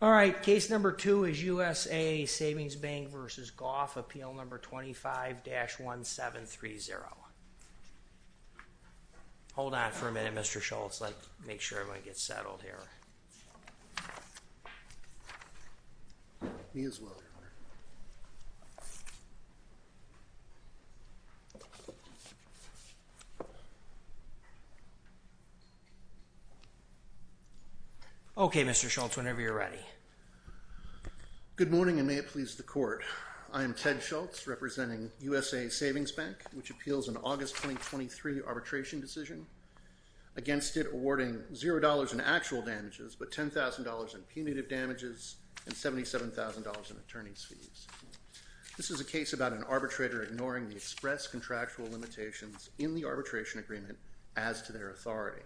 All right, case number two is USAA Savings Bank v. Goff, appeal number 25-1730. Hold on for a minute, Mr. Schultz. Let's make sure everyone gets settled here. Me as well, Your Honor. Okay, Mr. Schultz, whenever you're ready. Good morning, and may it please the Court. I am Ted Schultz, representing USAA Savings Bank, which appeals an August 2023 arbitration decision, against it awarding $0 in actual damages but $10,000 in punitive damages and $77,000 in attorney's fees. This is a case about an arbitrator ignoring the express contractual limitations in the arbitration agreement as to their authority.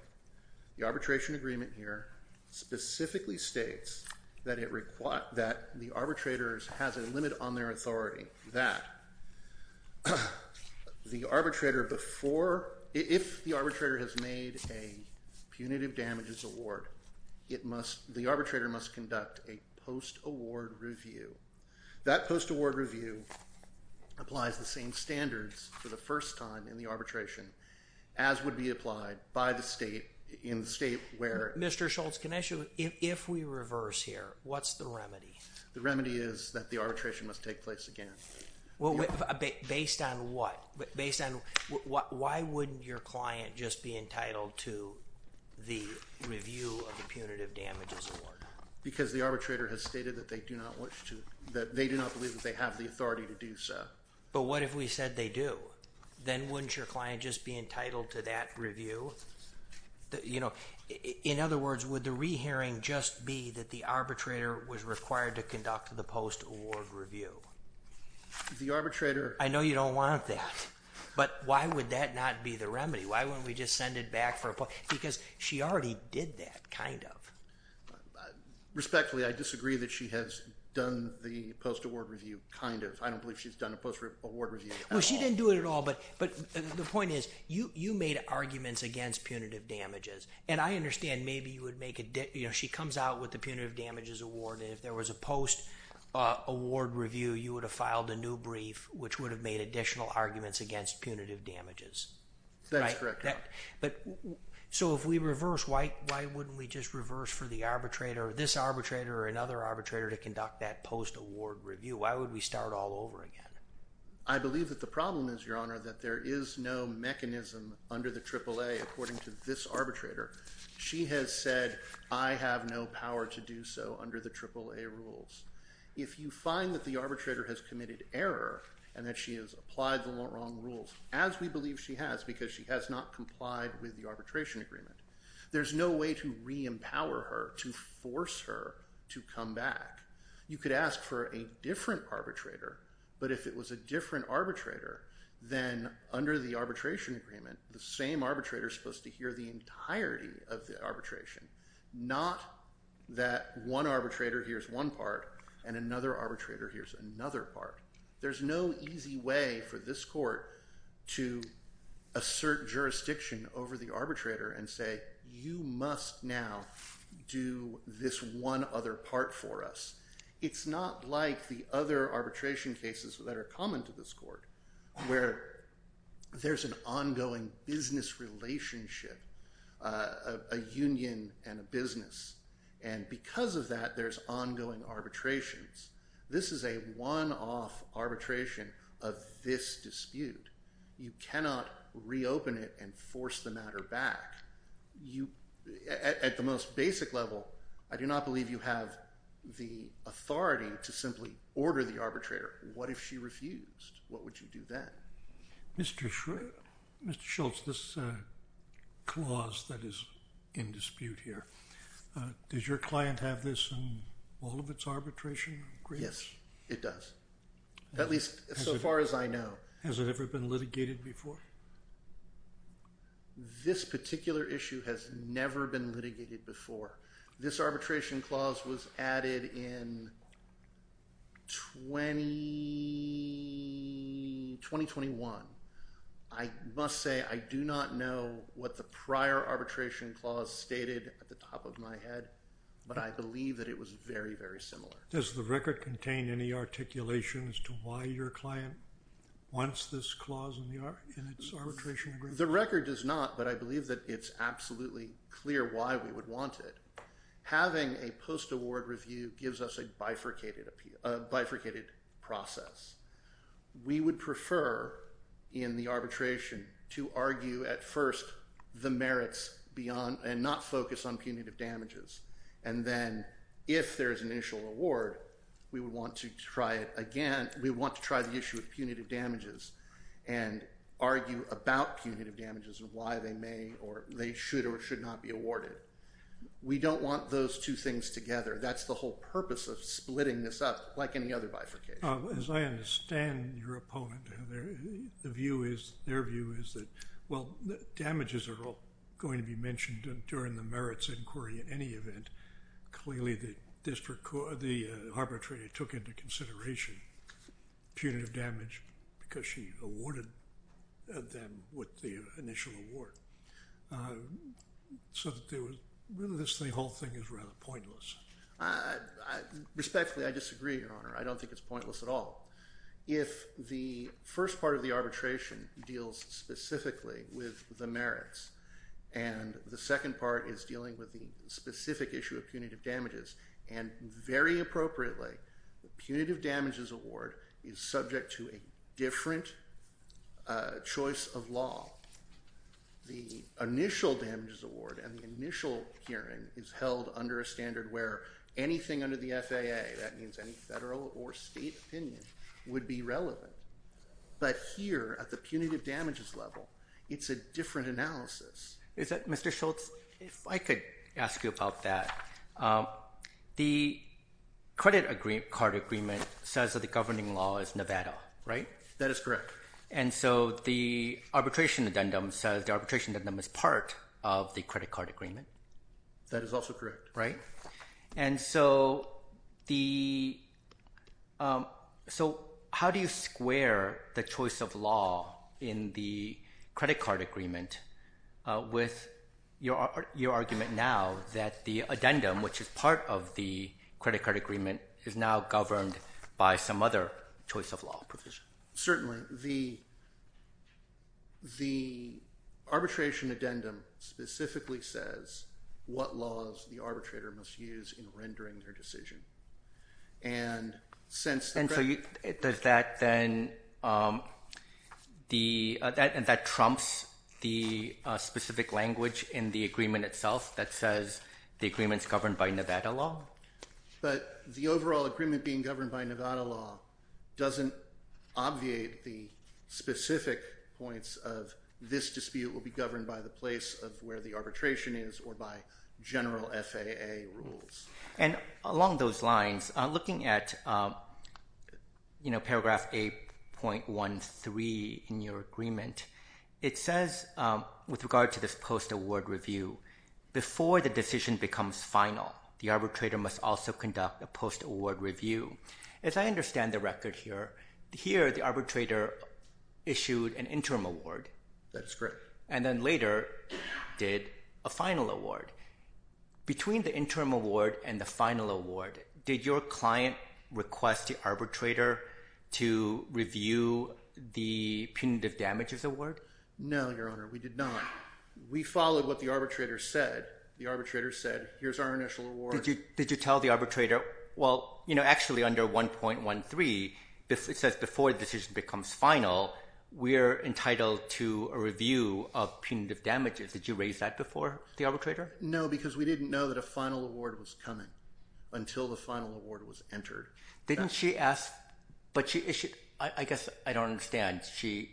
The arbitration agreement here specifically states that the arbitrator has a limit on their authority, meaning that if the arbitrator has made a punitive damages award, the arbitrator must conduct a post-award review. That post-award review applies the same standards for the first time in the arbitration, as would be applied in the state where... Mr. Schultz, can I ask you, if we reverse here, what's the remedy? The remedy is that the arbitration must take place again. Based on what? Why wouldn't your client just be entitled to the review of the punitive damages award? Because the arbitrator has stated that they do not believe that they have the authority to do so. But what if we said they do? Then wouldn't your client just be entitled to that review? In other words, would the re-hearing just be that the arbitrator was required to conduct the post-award review? The arbitrator... I know you don't want that, but why would that not be the remedy? Why wouldn't we just send it back for... Because she already did that, kind of. Respectfully, I disagree that she has done the post-award review, kind of. I don't believe she's done a post-award review at all. No, she didn't do it at all, but the point is, you made arguments against punitive damages. And I understand maybe you would make... She comes out with the punitive damages award, and if there was a post-award review, you would have filed a new brief, which would have made additional arguments against punitive damages. That's correct. So if we reverse, why wouldn't we just reverse for this arbitrator or another arbitrator to conduct that post-award review? Why would we start all over again? The problem is, Your Honor, that there is no mechanism under the AAA, according to this arbitrator. She has said, I have no power to do so under the AAA rules. If you find that the arbitrator has committed error, and that she has applied the wrong rules, as we believe she has, because she has not complied with the arbitration agreement, there's no way to re-empower her, to force her to come back. You could ask for a different arbitrator, but if it was a different arbitrator, then under the arbitration agreement, the same arbitrator is supposed to hear the entirety of the arbitration. Not that one arbitrator hears one part, and another arbitrator hears another part. There's no easy way for this court to assert jurisdiction over the arbitrator and say, you must now do this one other part for us. It's not like the other arbitration cases that are common to this court, where there's an ongoing business relationship, a union and a business. And because of that, there's ongoing arbitrations. This is a one-off arbitration of this dispute. You cannot reopen it and force the matter back. At the most basic level, I do not believe you have the authority to simply order the arbitrator. What if she refused? What would you do then? Mr. Schultz, this clause that is in dispute here, does your client have this in all of its arbitration agreements? Yes, it does. At least so far as I know. Has it ever been litigated before? This particular issue has never been litigated before. This arbitration clause was added in 2021. I must say, I do not know what the prior arbitration clause stated at the top of my head, but I believe that it was very, very similar. Does the record contain any articulation as to why your client wants this clause in its arbitration agreement? The record does not, but I believe that it's absolutely clear why we would want it. Having a post-award review gives us a bifurcated process. We would prefer in the arbitration to argue at first the merits and not focus on punitive damages. And then if there is an initial award, we would want to try it again. We want to try the issue of punitive damages and argue about punitive damages and why they may or they should or should not be awarded. We don't want those two things together. That's the whole purpose of splitting this up like any other bifurcation. As I understand your opponent, their view is that, well, damages are all going to be mentioned during the merits inquiry in any event. Clearly, the arbitrator took into consideration punitive damage because she awarded them with the initial award. So really, this whole thing is rather pointless. Respectfully, I disagree, Your Honor. I don't think it's pointless at all. If the first part of the arbitration deals specifically with the merits and the second part is dealing with the specific issue of punitive damages, and very appropriately, the punitive damages award is subject to a different choice of law. The initial damages award and the initial hearing is held under a standard where anything under the FAA, that means any federal or state opinion, would be relevant. But here, at the punitive damages level, it's a different analysis. Mr. Schultz, if I could ask you about that. The credit card agreement says that the governing law is Nevada, right? That is correct. And so the arbitration addendum says the arbitration addendum is part of the credit card agreement. That is also correct. Right. And so how do you square the choice of law in the credit card agreement with your argument now that the addendum, which is part of the credit card agreement, is now governed by some other choice of law provision? Certainly. The arbitration addendum specifically says what laws the arbitrator must use in rendering their decision. And so does that then, that trumps the specific language in the agreement itself that says the agreement is governed by Nevada law? But the overall agreement being governed by Nevada law doesn't obviate the specific points of this dispute will be governed by the place of where the arbitration is or by general FAA rules. And along those lines, looking at paragraph 8.13 in your agreement, it says with regard to this post-award review, before the decision becomes final, the arbitrator must also conduct a post-award review. As I understand the record here, here the arbitrator issued an interim award. That is correct. And then later did a final award. Between the interim award and the final award, did your client request the arbitrator to review the punitive damages award? No, Your Honor, we did not. We followed what the arbitrator said. The arbitrator said, here's our initial award. Did you tell the arbitrator, well, you know, actually under 1.13, it says before the decision becomes final, we're entitled to a review of punitive damages. Did you raise that before the arbitrator? No, because we didn't know that a final award was coming until the final award was entered. Didn't she ask, but I guess I don't understand. She,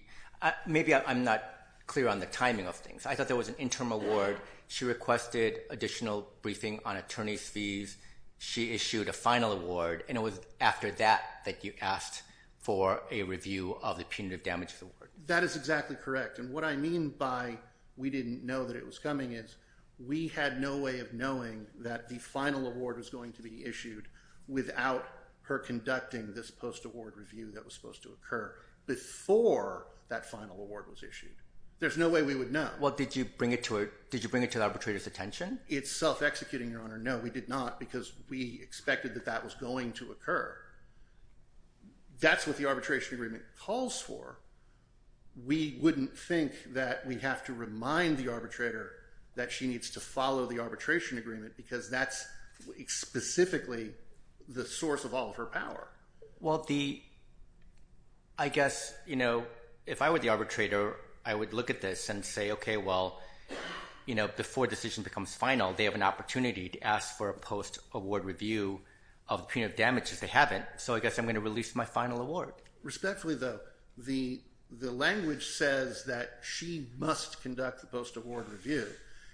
maybe I'm not clear on the timing of things. I thought there was an interim award. She requested additional briefing on attorney's fees. She issued a final award. And it was after that that you asked for a review of the punitive damages award. That is exactly correct. And what I mean by we didn't know that it was coming is, we had no way of knowing that the final award was going to be issued without her conducting this post-award review that was supposed to occur. Before that final award was issued. There's no way we would know. Well, did you bring it to the arbitrator's attention? It's self-executing, Your Honor. No, we did not because we expected that that was going to occur. That's what the arbitration agreement calls for. We wouldn't think that we have to remind the arbitrator that she needs to follow the arbitration agreement because that's specifically the source of all of her power. Well, I guess, you know, if I were the arbitrator, I would look at this and say, okay, well, you know, before a decision becomes final, they have an opportunity to ask for a post-award review of the punitive damages they haven't. So I guess I'm going to release my final award. Respectfully, though, the language says that she must conduct the post-award review.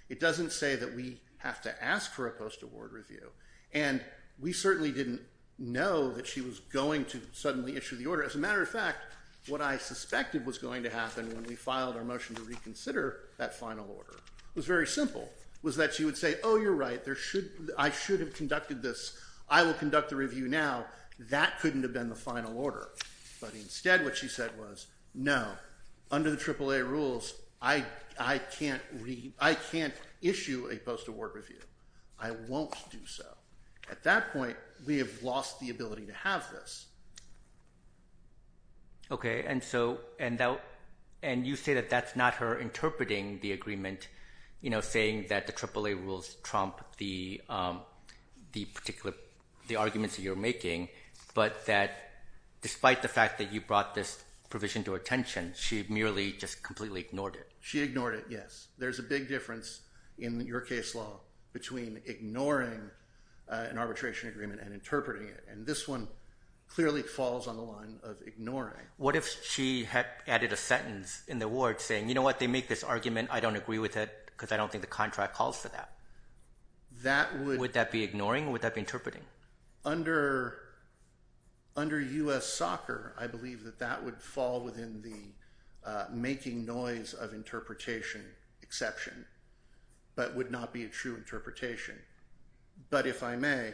It doesn't say that we have to ask for a post-award review. And we certainly didn't know that she was going to suddenly issue the order. As a matter of fact, what I suspected was going to happen when we filed our motion to reconsider that final order was very simple, was that she would say, oh, you're right, I should have conducted this. I will conduct the review now. That couldn't have been the final order. But instead, what she said was, no, under the AAA rules, I can't issue a post-award review. I won't do so. At that point, we have lost the ability to have this. Okay. And you say that that's not her interpreting the agreement, you know, saying that the AAA rules trump the arguments that you're making, but that despite the fact that you brought this provision to her attention, she merely just completely ignored it. She ignored it, yes. There's a big difference in your case law between ignoring an arbitration agreement and interpreting it. And this one clearly falls on the line of ignoring. What if she had added a sentence in the award saying, you know what, they make this argument, I don't agree with it because I don't think the contract calls for that? Would that be ignoring or would that be interpreting? Under U.S. soccer, I believe that that would fall within the making noise of interpretation exception, but would not be a true interpretation. But if I may,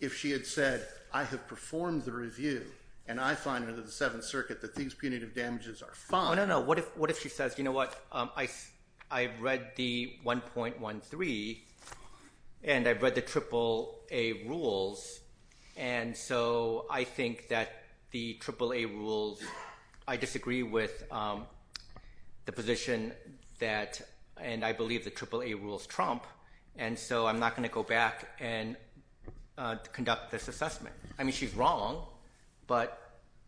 if she had said, I have performed the review and I find under the Seventh Circuit that these punitive damages are fine. No, no, no. What if she says, you know what, I've read the 1.13 and I've read the AAA rules, and so I think that the AAA rules, I disagree with the position and I believe the AAA rules trump, and so I'm not going to go back and conduct this assessment. I mean, she's wrong, but...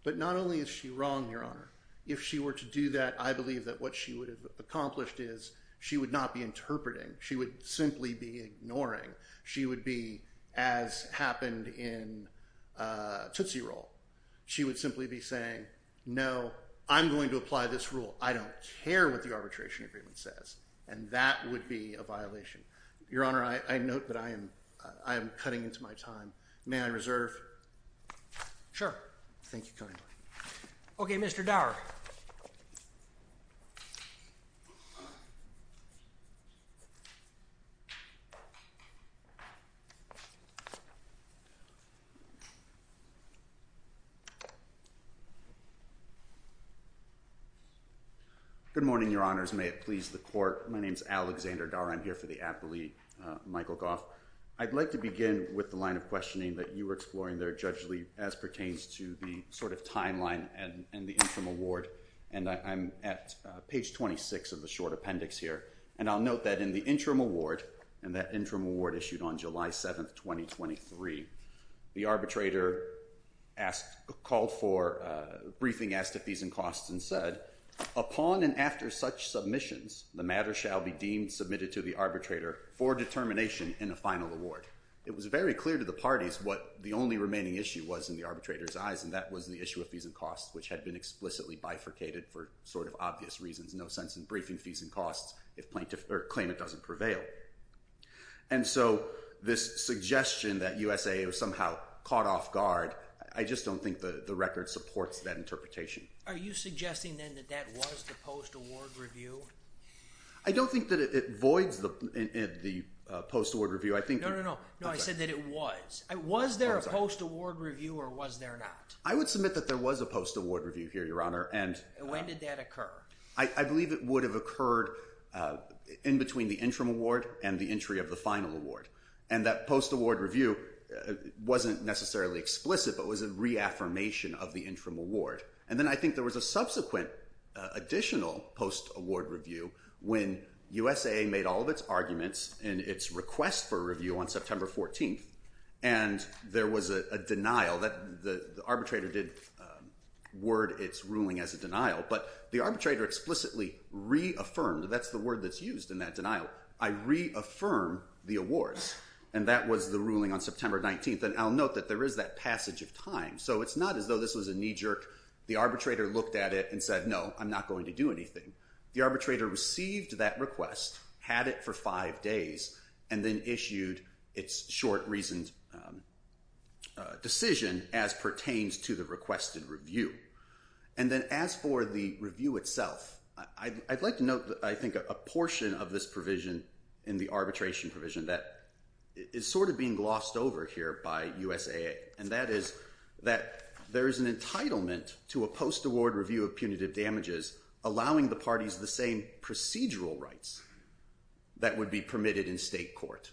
But not only is she wrong, Your Honor, if she were to do that, I believe that what she would have accomplished is she would not be interpreting. She would simply be ignoring. She would be as happened in Tootsie Roll. She would simply be saying, no, I'm going to apply this rule. I don't care what the arbitration agreement says, and that would be a violation. Your Honor, I note that I am cutting into my time. May I reserve? Sure. Thank you kindly. Okay, Mr. Dower. Good morning, Your Honors. May it please the Court. My name's Alexander Dower. I'm here for the appellee, Michael Goff. I'd like to begin with the line of questioning that you were exploring there, Judge Lee, as pertains to the sort of timeline and the interim award, and I'm at page 26 of the short appendix here, and I'll note that in the interim award, and that interim award issued on July 7th, 2023, the arbitrator asked, called for, briefing as to fees and costs and said, upon and after such submissions, the matter shall be deemed submitted to the arbitrator for determination in a final award. It was very clear to the parties what the only remaining issue was in the arbitrator's eyes, and that was the issue of fees and costs, which had been explicitly bifurcated for sort of obvious reasons, no sense in briefing fees and costs if plaintiff, or claimant doesn't prevail. And so this suggestion that USAA was somehow caught off guard, I just don't think the record supports that interpretation. Are you suggesting, then, that that was the post-award review? I don't think that it voids the post-award review. No, no, no, I said that it was. Was there a post-award review, or was there not? I would submit that there was a post-award review here, Your Honor, and... When did that occur? I believe it would have occurred in between the interim award and the entry of the final award, and that post-award review wasn't explicit, but was a reaffirmation of the interim award. And then I think there was a subsequent additional post-award review when USAA made all of its arguments in its request for review on September 14th, and there was a denial. The arbitrator did word its ruling as a denial, but the arbitrator explicitly reaffirmed, that's the word that's used in that denial, I reaffirm the awards, and that was the ruling on September 19th. But then I'll note that there is that passage of time, so it's not as though this was a knee-jerk, the arbitrator looked at it and said, no, I'm not going to do anything. The arbitrator received that request, had it for five days, and then issued its short-reasoned decision as pertains to the requested review. And then as for the review itself, I'd like to note, I think, a portion of this provision in the arbitration provision that is sort of being glossed over here by USAA, and that is that there is an entitlement to a post-award review of punitive damages allowing the parties the same procedural rights that would be permitted in state court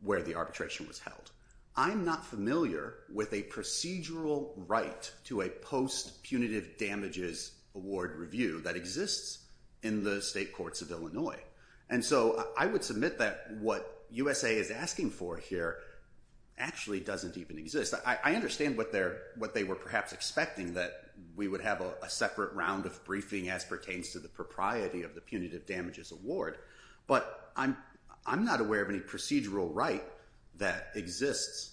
where the arbitration was held. I'm not familiar with a procedural right to a post-punitive damages award review that exists in the state courts of Illinois. And so I would submit that what USAA is asking for here actually doesn't even exist. I understand what they were perhaps expecting, that we would have a separate round of briefing as pertains to the propriety of the punitive damages award, but I'm not aware of any procedural right that exists,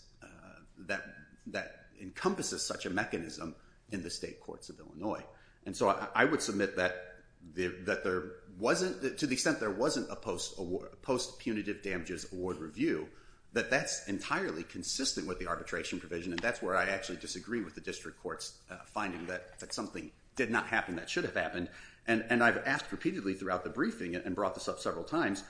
that encompasses such a mechanism in the state courts of Illinois. And so I would submit that there wasn't, to the extent there wasn't a post-punitive damages award review, that that's entirely consistent with the arbitration provision, and that's where I actually disagree with the district court's finding that something did not happen that should have happened. And I've asked repeatedly throughout the briefing and brought this up several times,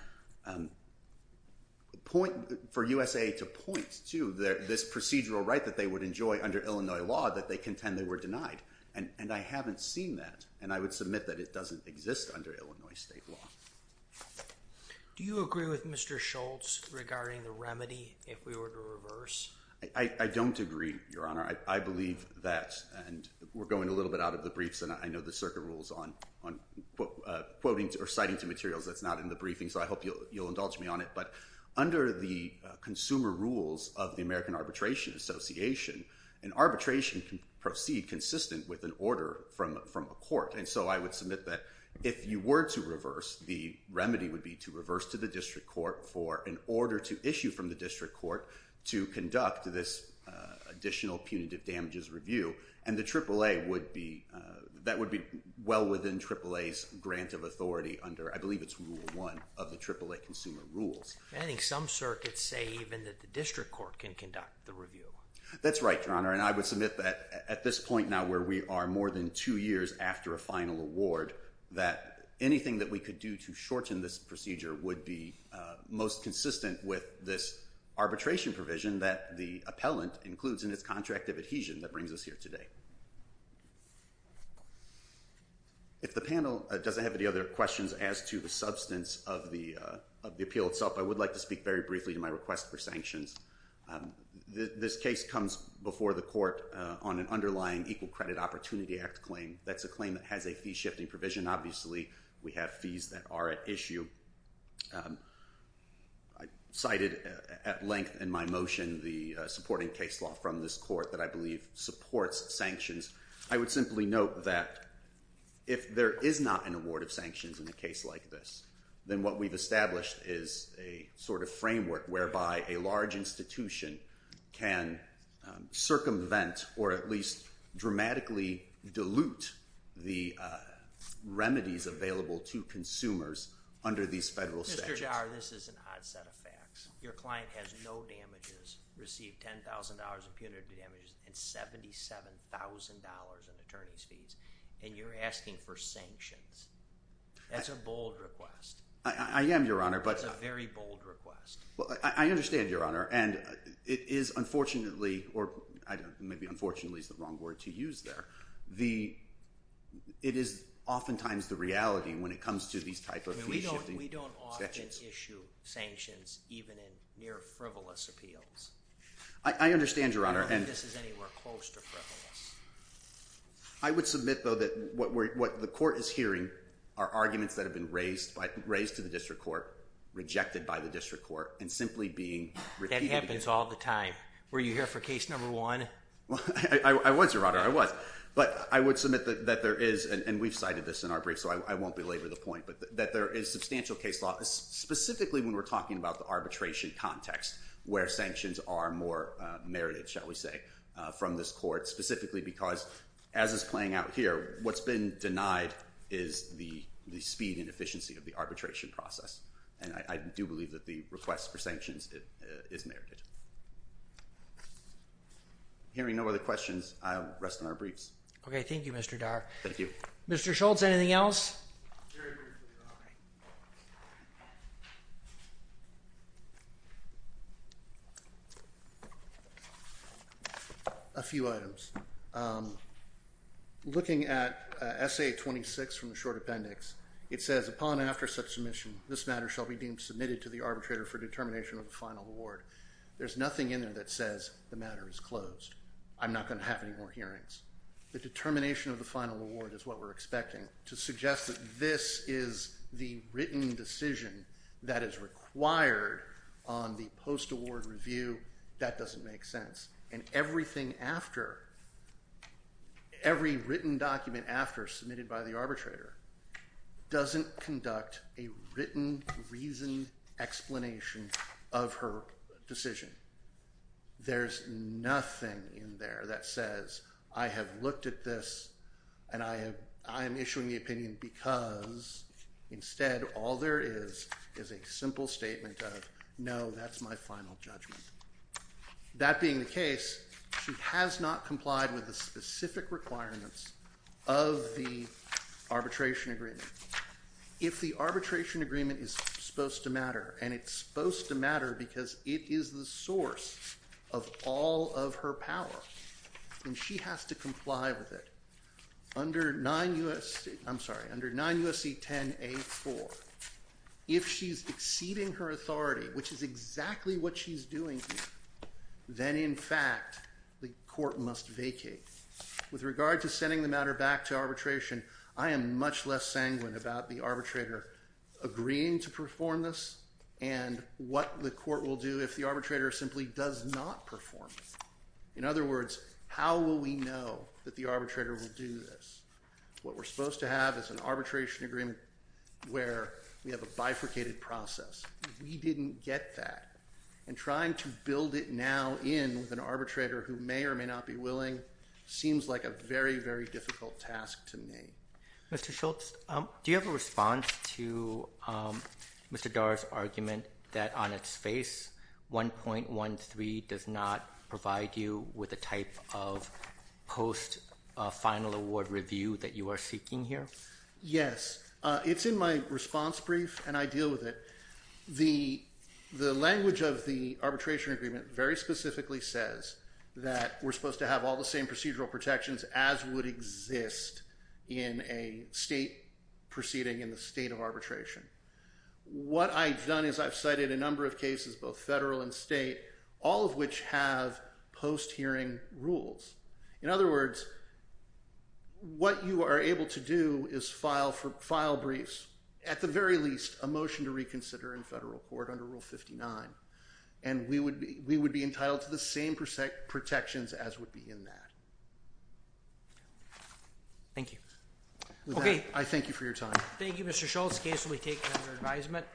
for USAA to point to this procedural right that they would enjoy under Illinois law that they contend they were denied. And I haven't seen that, and I would submit that it doesn't exist in the state courts of Illinois. Do you agree with Mr. Schultz regarding the remedy if we were to reverse? I don't agree, Your Honor. I believe that, and we're going a little bit out of the briefs, and I know the circuit rules on quoting or citing to materials that's not in the briefing, so I hope you'll indulge me on it. But under the consumer rules of the American Arbitration Association, an arbitration can proceed consistent with an order from a court. And so I would submit that if you were to reverse, the remedy would be to reverse to the district court for an order to issue from the district court to conduct this additional punitive damages review. And the AAA would be, that would be well within AAA's grant of authority under, I believe it's Rule 1 of the AAA consumer rules. I think some circuits say even that the district court can conduct the review. That's right, Your Honor. And I would submit that at this point now where we are more than two years after a final award, that anything that we could do to shorten this procedure would be most consistent with this arbitration provision that the appellant includes in its contract of adhesion that brings us here today. If the panel doesn't have any other questions as to the substance of the appeal itself, I would like to speak very briefly to my request for sanctions. This case comes before the court on an underlying Equal Credit Opportunity Act claim. That's a claim that has a fee-shifting provision. Obviously, we have fees that are at issue. I cited at length in my motion the supporting case law from this court that I believe supports sanctions. I would simply note that if there is not an award of sanctions in a case like this, then what we've established is a sort of framework whereby a large institution can circumvent, or at least dramatically dilute, the remedies available to consumers under these federal statutes. Mr. Jarr, this is an odd set of facts. Your client has no damages, received $10,000 in punitive damages and $77,000 in attorney's fees, and you're asking for sanctions. That's a bold request. I am, Your Honor. That's a very bold request. I understand, Your Honor. It is, unfortunately, or maybe unfortunately is the wrong word to use there. It is oftentimes the reality when it comes to these type of fee-shifting statutes. We don't often issue sanctions even in near frivolous appeals. I understand, Your Honor. I don't think this is anywhere close to frivolous. I would submit, though, that what the court is hearing are arguments that have been raised to the district court, and simply being repeated. That happens all the time. Were you here for case number one? I was, Your Honor. I was. But I would submit that there is, and we've cited this in our brief, so I won't belabor the point, but that there is substantial case law, specifically when we're talking about the arbitration context, where sanctions are more merited, shall we say, from this court, specifically because, as is playing out here, what's been denied is the speed and efficiency of the arbitration process. And that's where sanctions is merited. Hearing no other questions, I'll rest on our briefs. Okay. Thank you, Mr. Darr. Thank you. Mr. Schultz, anything else? Very briefly, Your Honor. A few items. Looking at Essay 26 from the short appendix, it says, Upon after such submission, this matter shall be deemed submitted to the arbitrator for determination of the final award. There's nothing in there that says the matter is closed. I'm not going to have any more hearings. The determination of the final award is what we're expecting. To suggest that this is the written decision that is required on the post-award review, that doesn't make sense. And everything after, every written document after, submitted by the arbitrator, doesn't conduct a written, reasoned explanation of her decision. There's nothing in there that says, I have looked at this, and I am issuing the opinion because, instead, all there is is a simple statement of, no, that's my final judgment. That being the case, she has not complied with the specific requirements of the arbitration agreement. If the arbitration agreement is supposed to matter, and it's supposed to matter because it is the source of all of her power, then she has to comply with it. Under 9 U.S.C., I'm sorry, under 9 U.S.C. 10 A.4, if she's exceeding her authority, which is exactly what she's doing here, then, in fact, the court must vacate. With regard to sending the matter back to arbitration, I am much less sanguine about the arbitrator agreeing to perform this, and what the court will do if the arbitrator simply does not perform it. In other words, how will we know that the arbitrator will do this? What we're supposed to have is an arbitration agreement where we have a bifurcated process. We didn't get that. And trying to build it now in with an arbitrator who may or may not be willing seems like a very, very difficult task to me. Mr. Schultz, do you have a response to Mr. Dar's argument that on its face 1.13 does not provide you with the type of post-final award review that you are seeking here? Yes. It's in my response brief, and I deal with it. The language of the arbitration agreement very specifically says that we're supposed to have the same federal protections as would exist in a state proceeding in the state of arbitration. What I've done is I've cited a number of cases, both federal and state, all of which have post-hearing rules. In other words, what you are able to do is file for file briefs, at the very least, a motion to reconsider in federal court under Rule 59, and we would be entitled to the same protections as would be in that. Thank you. I thank you for your time. Thank you, Mr. Schultz. The case will be taken under advisement.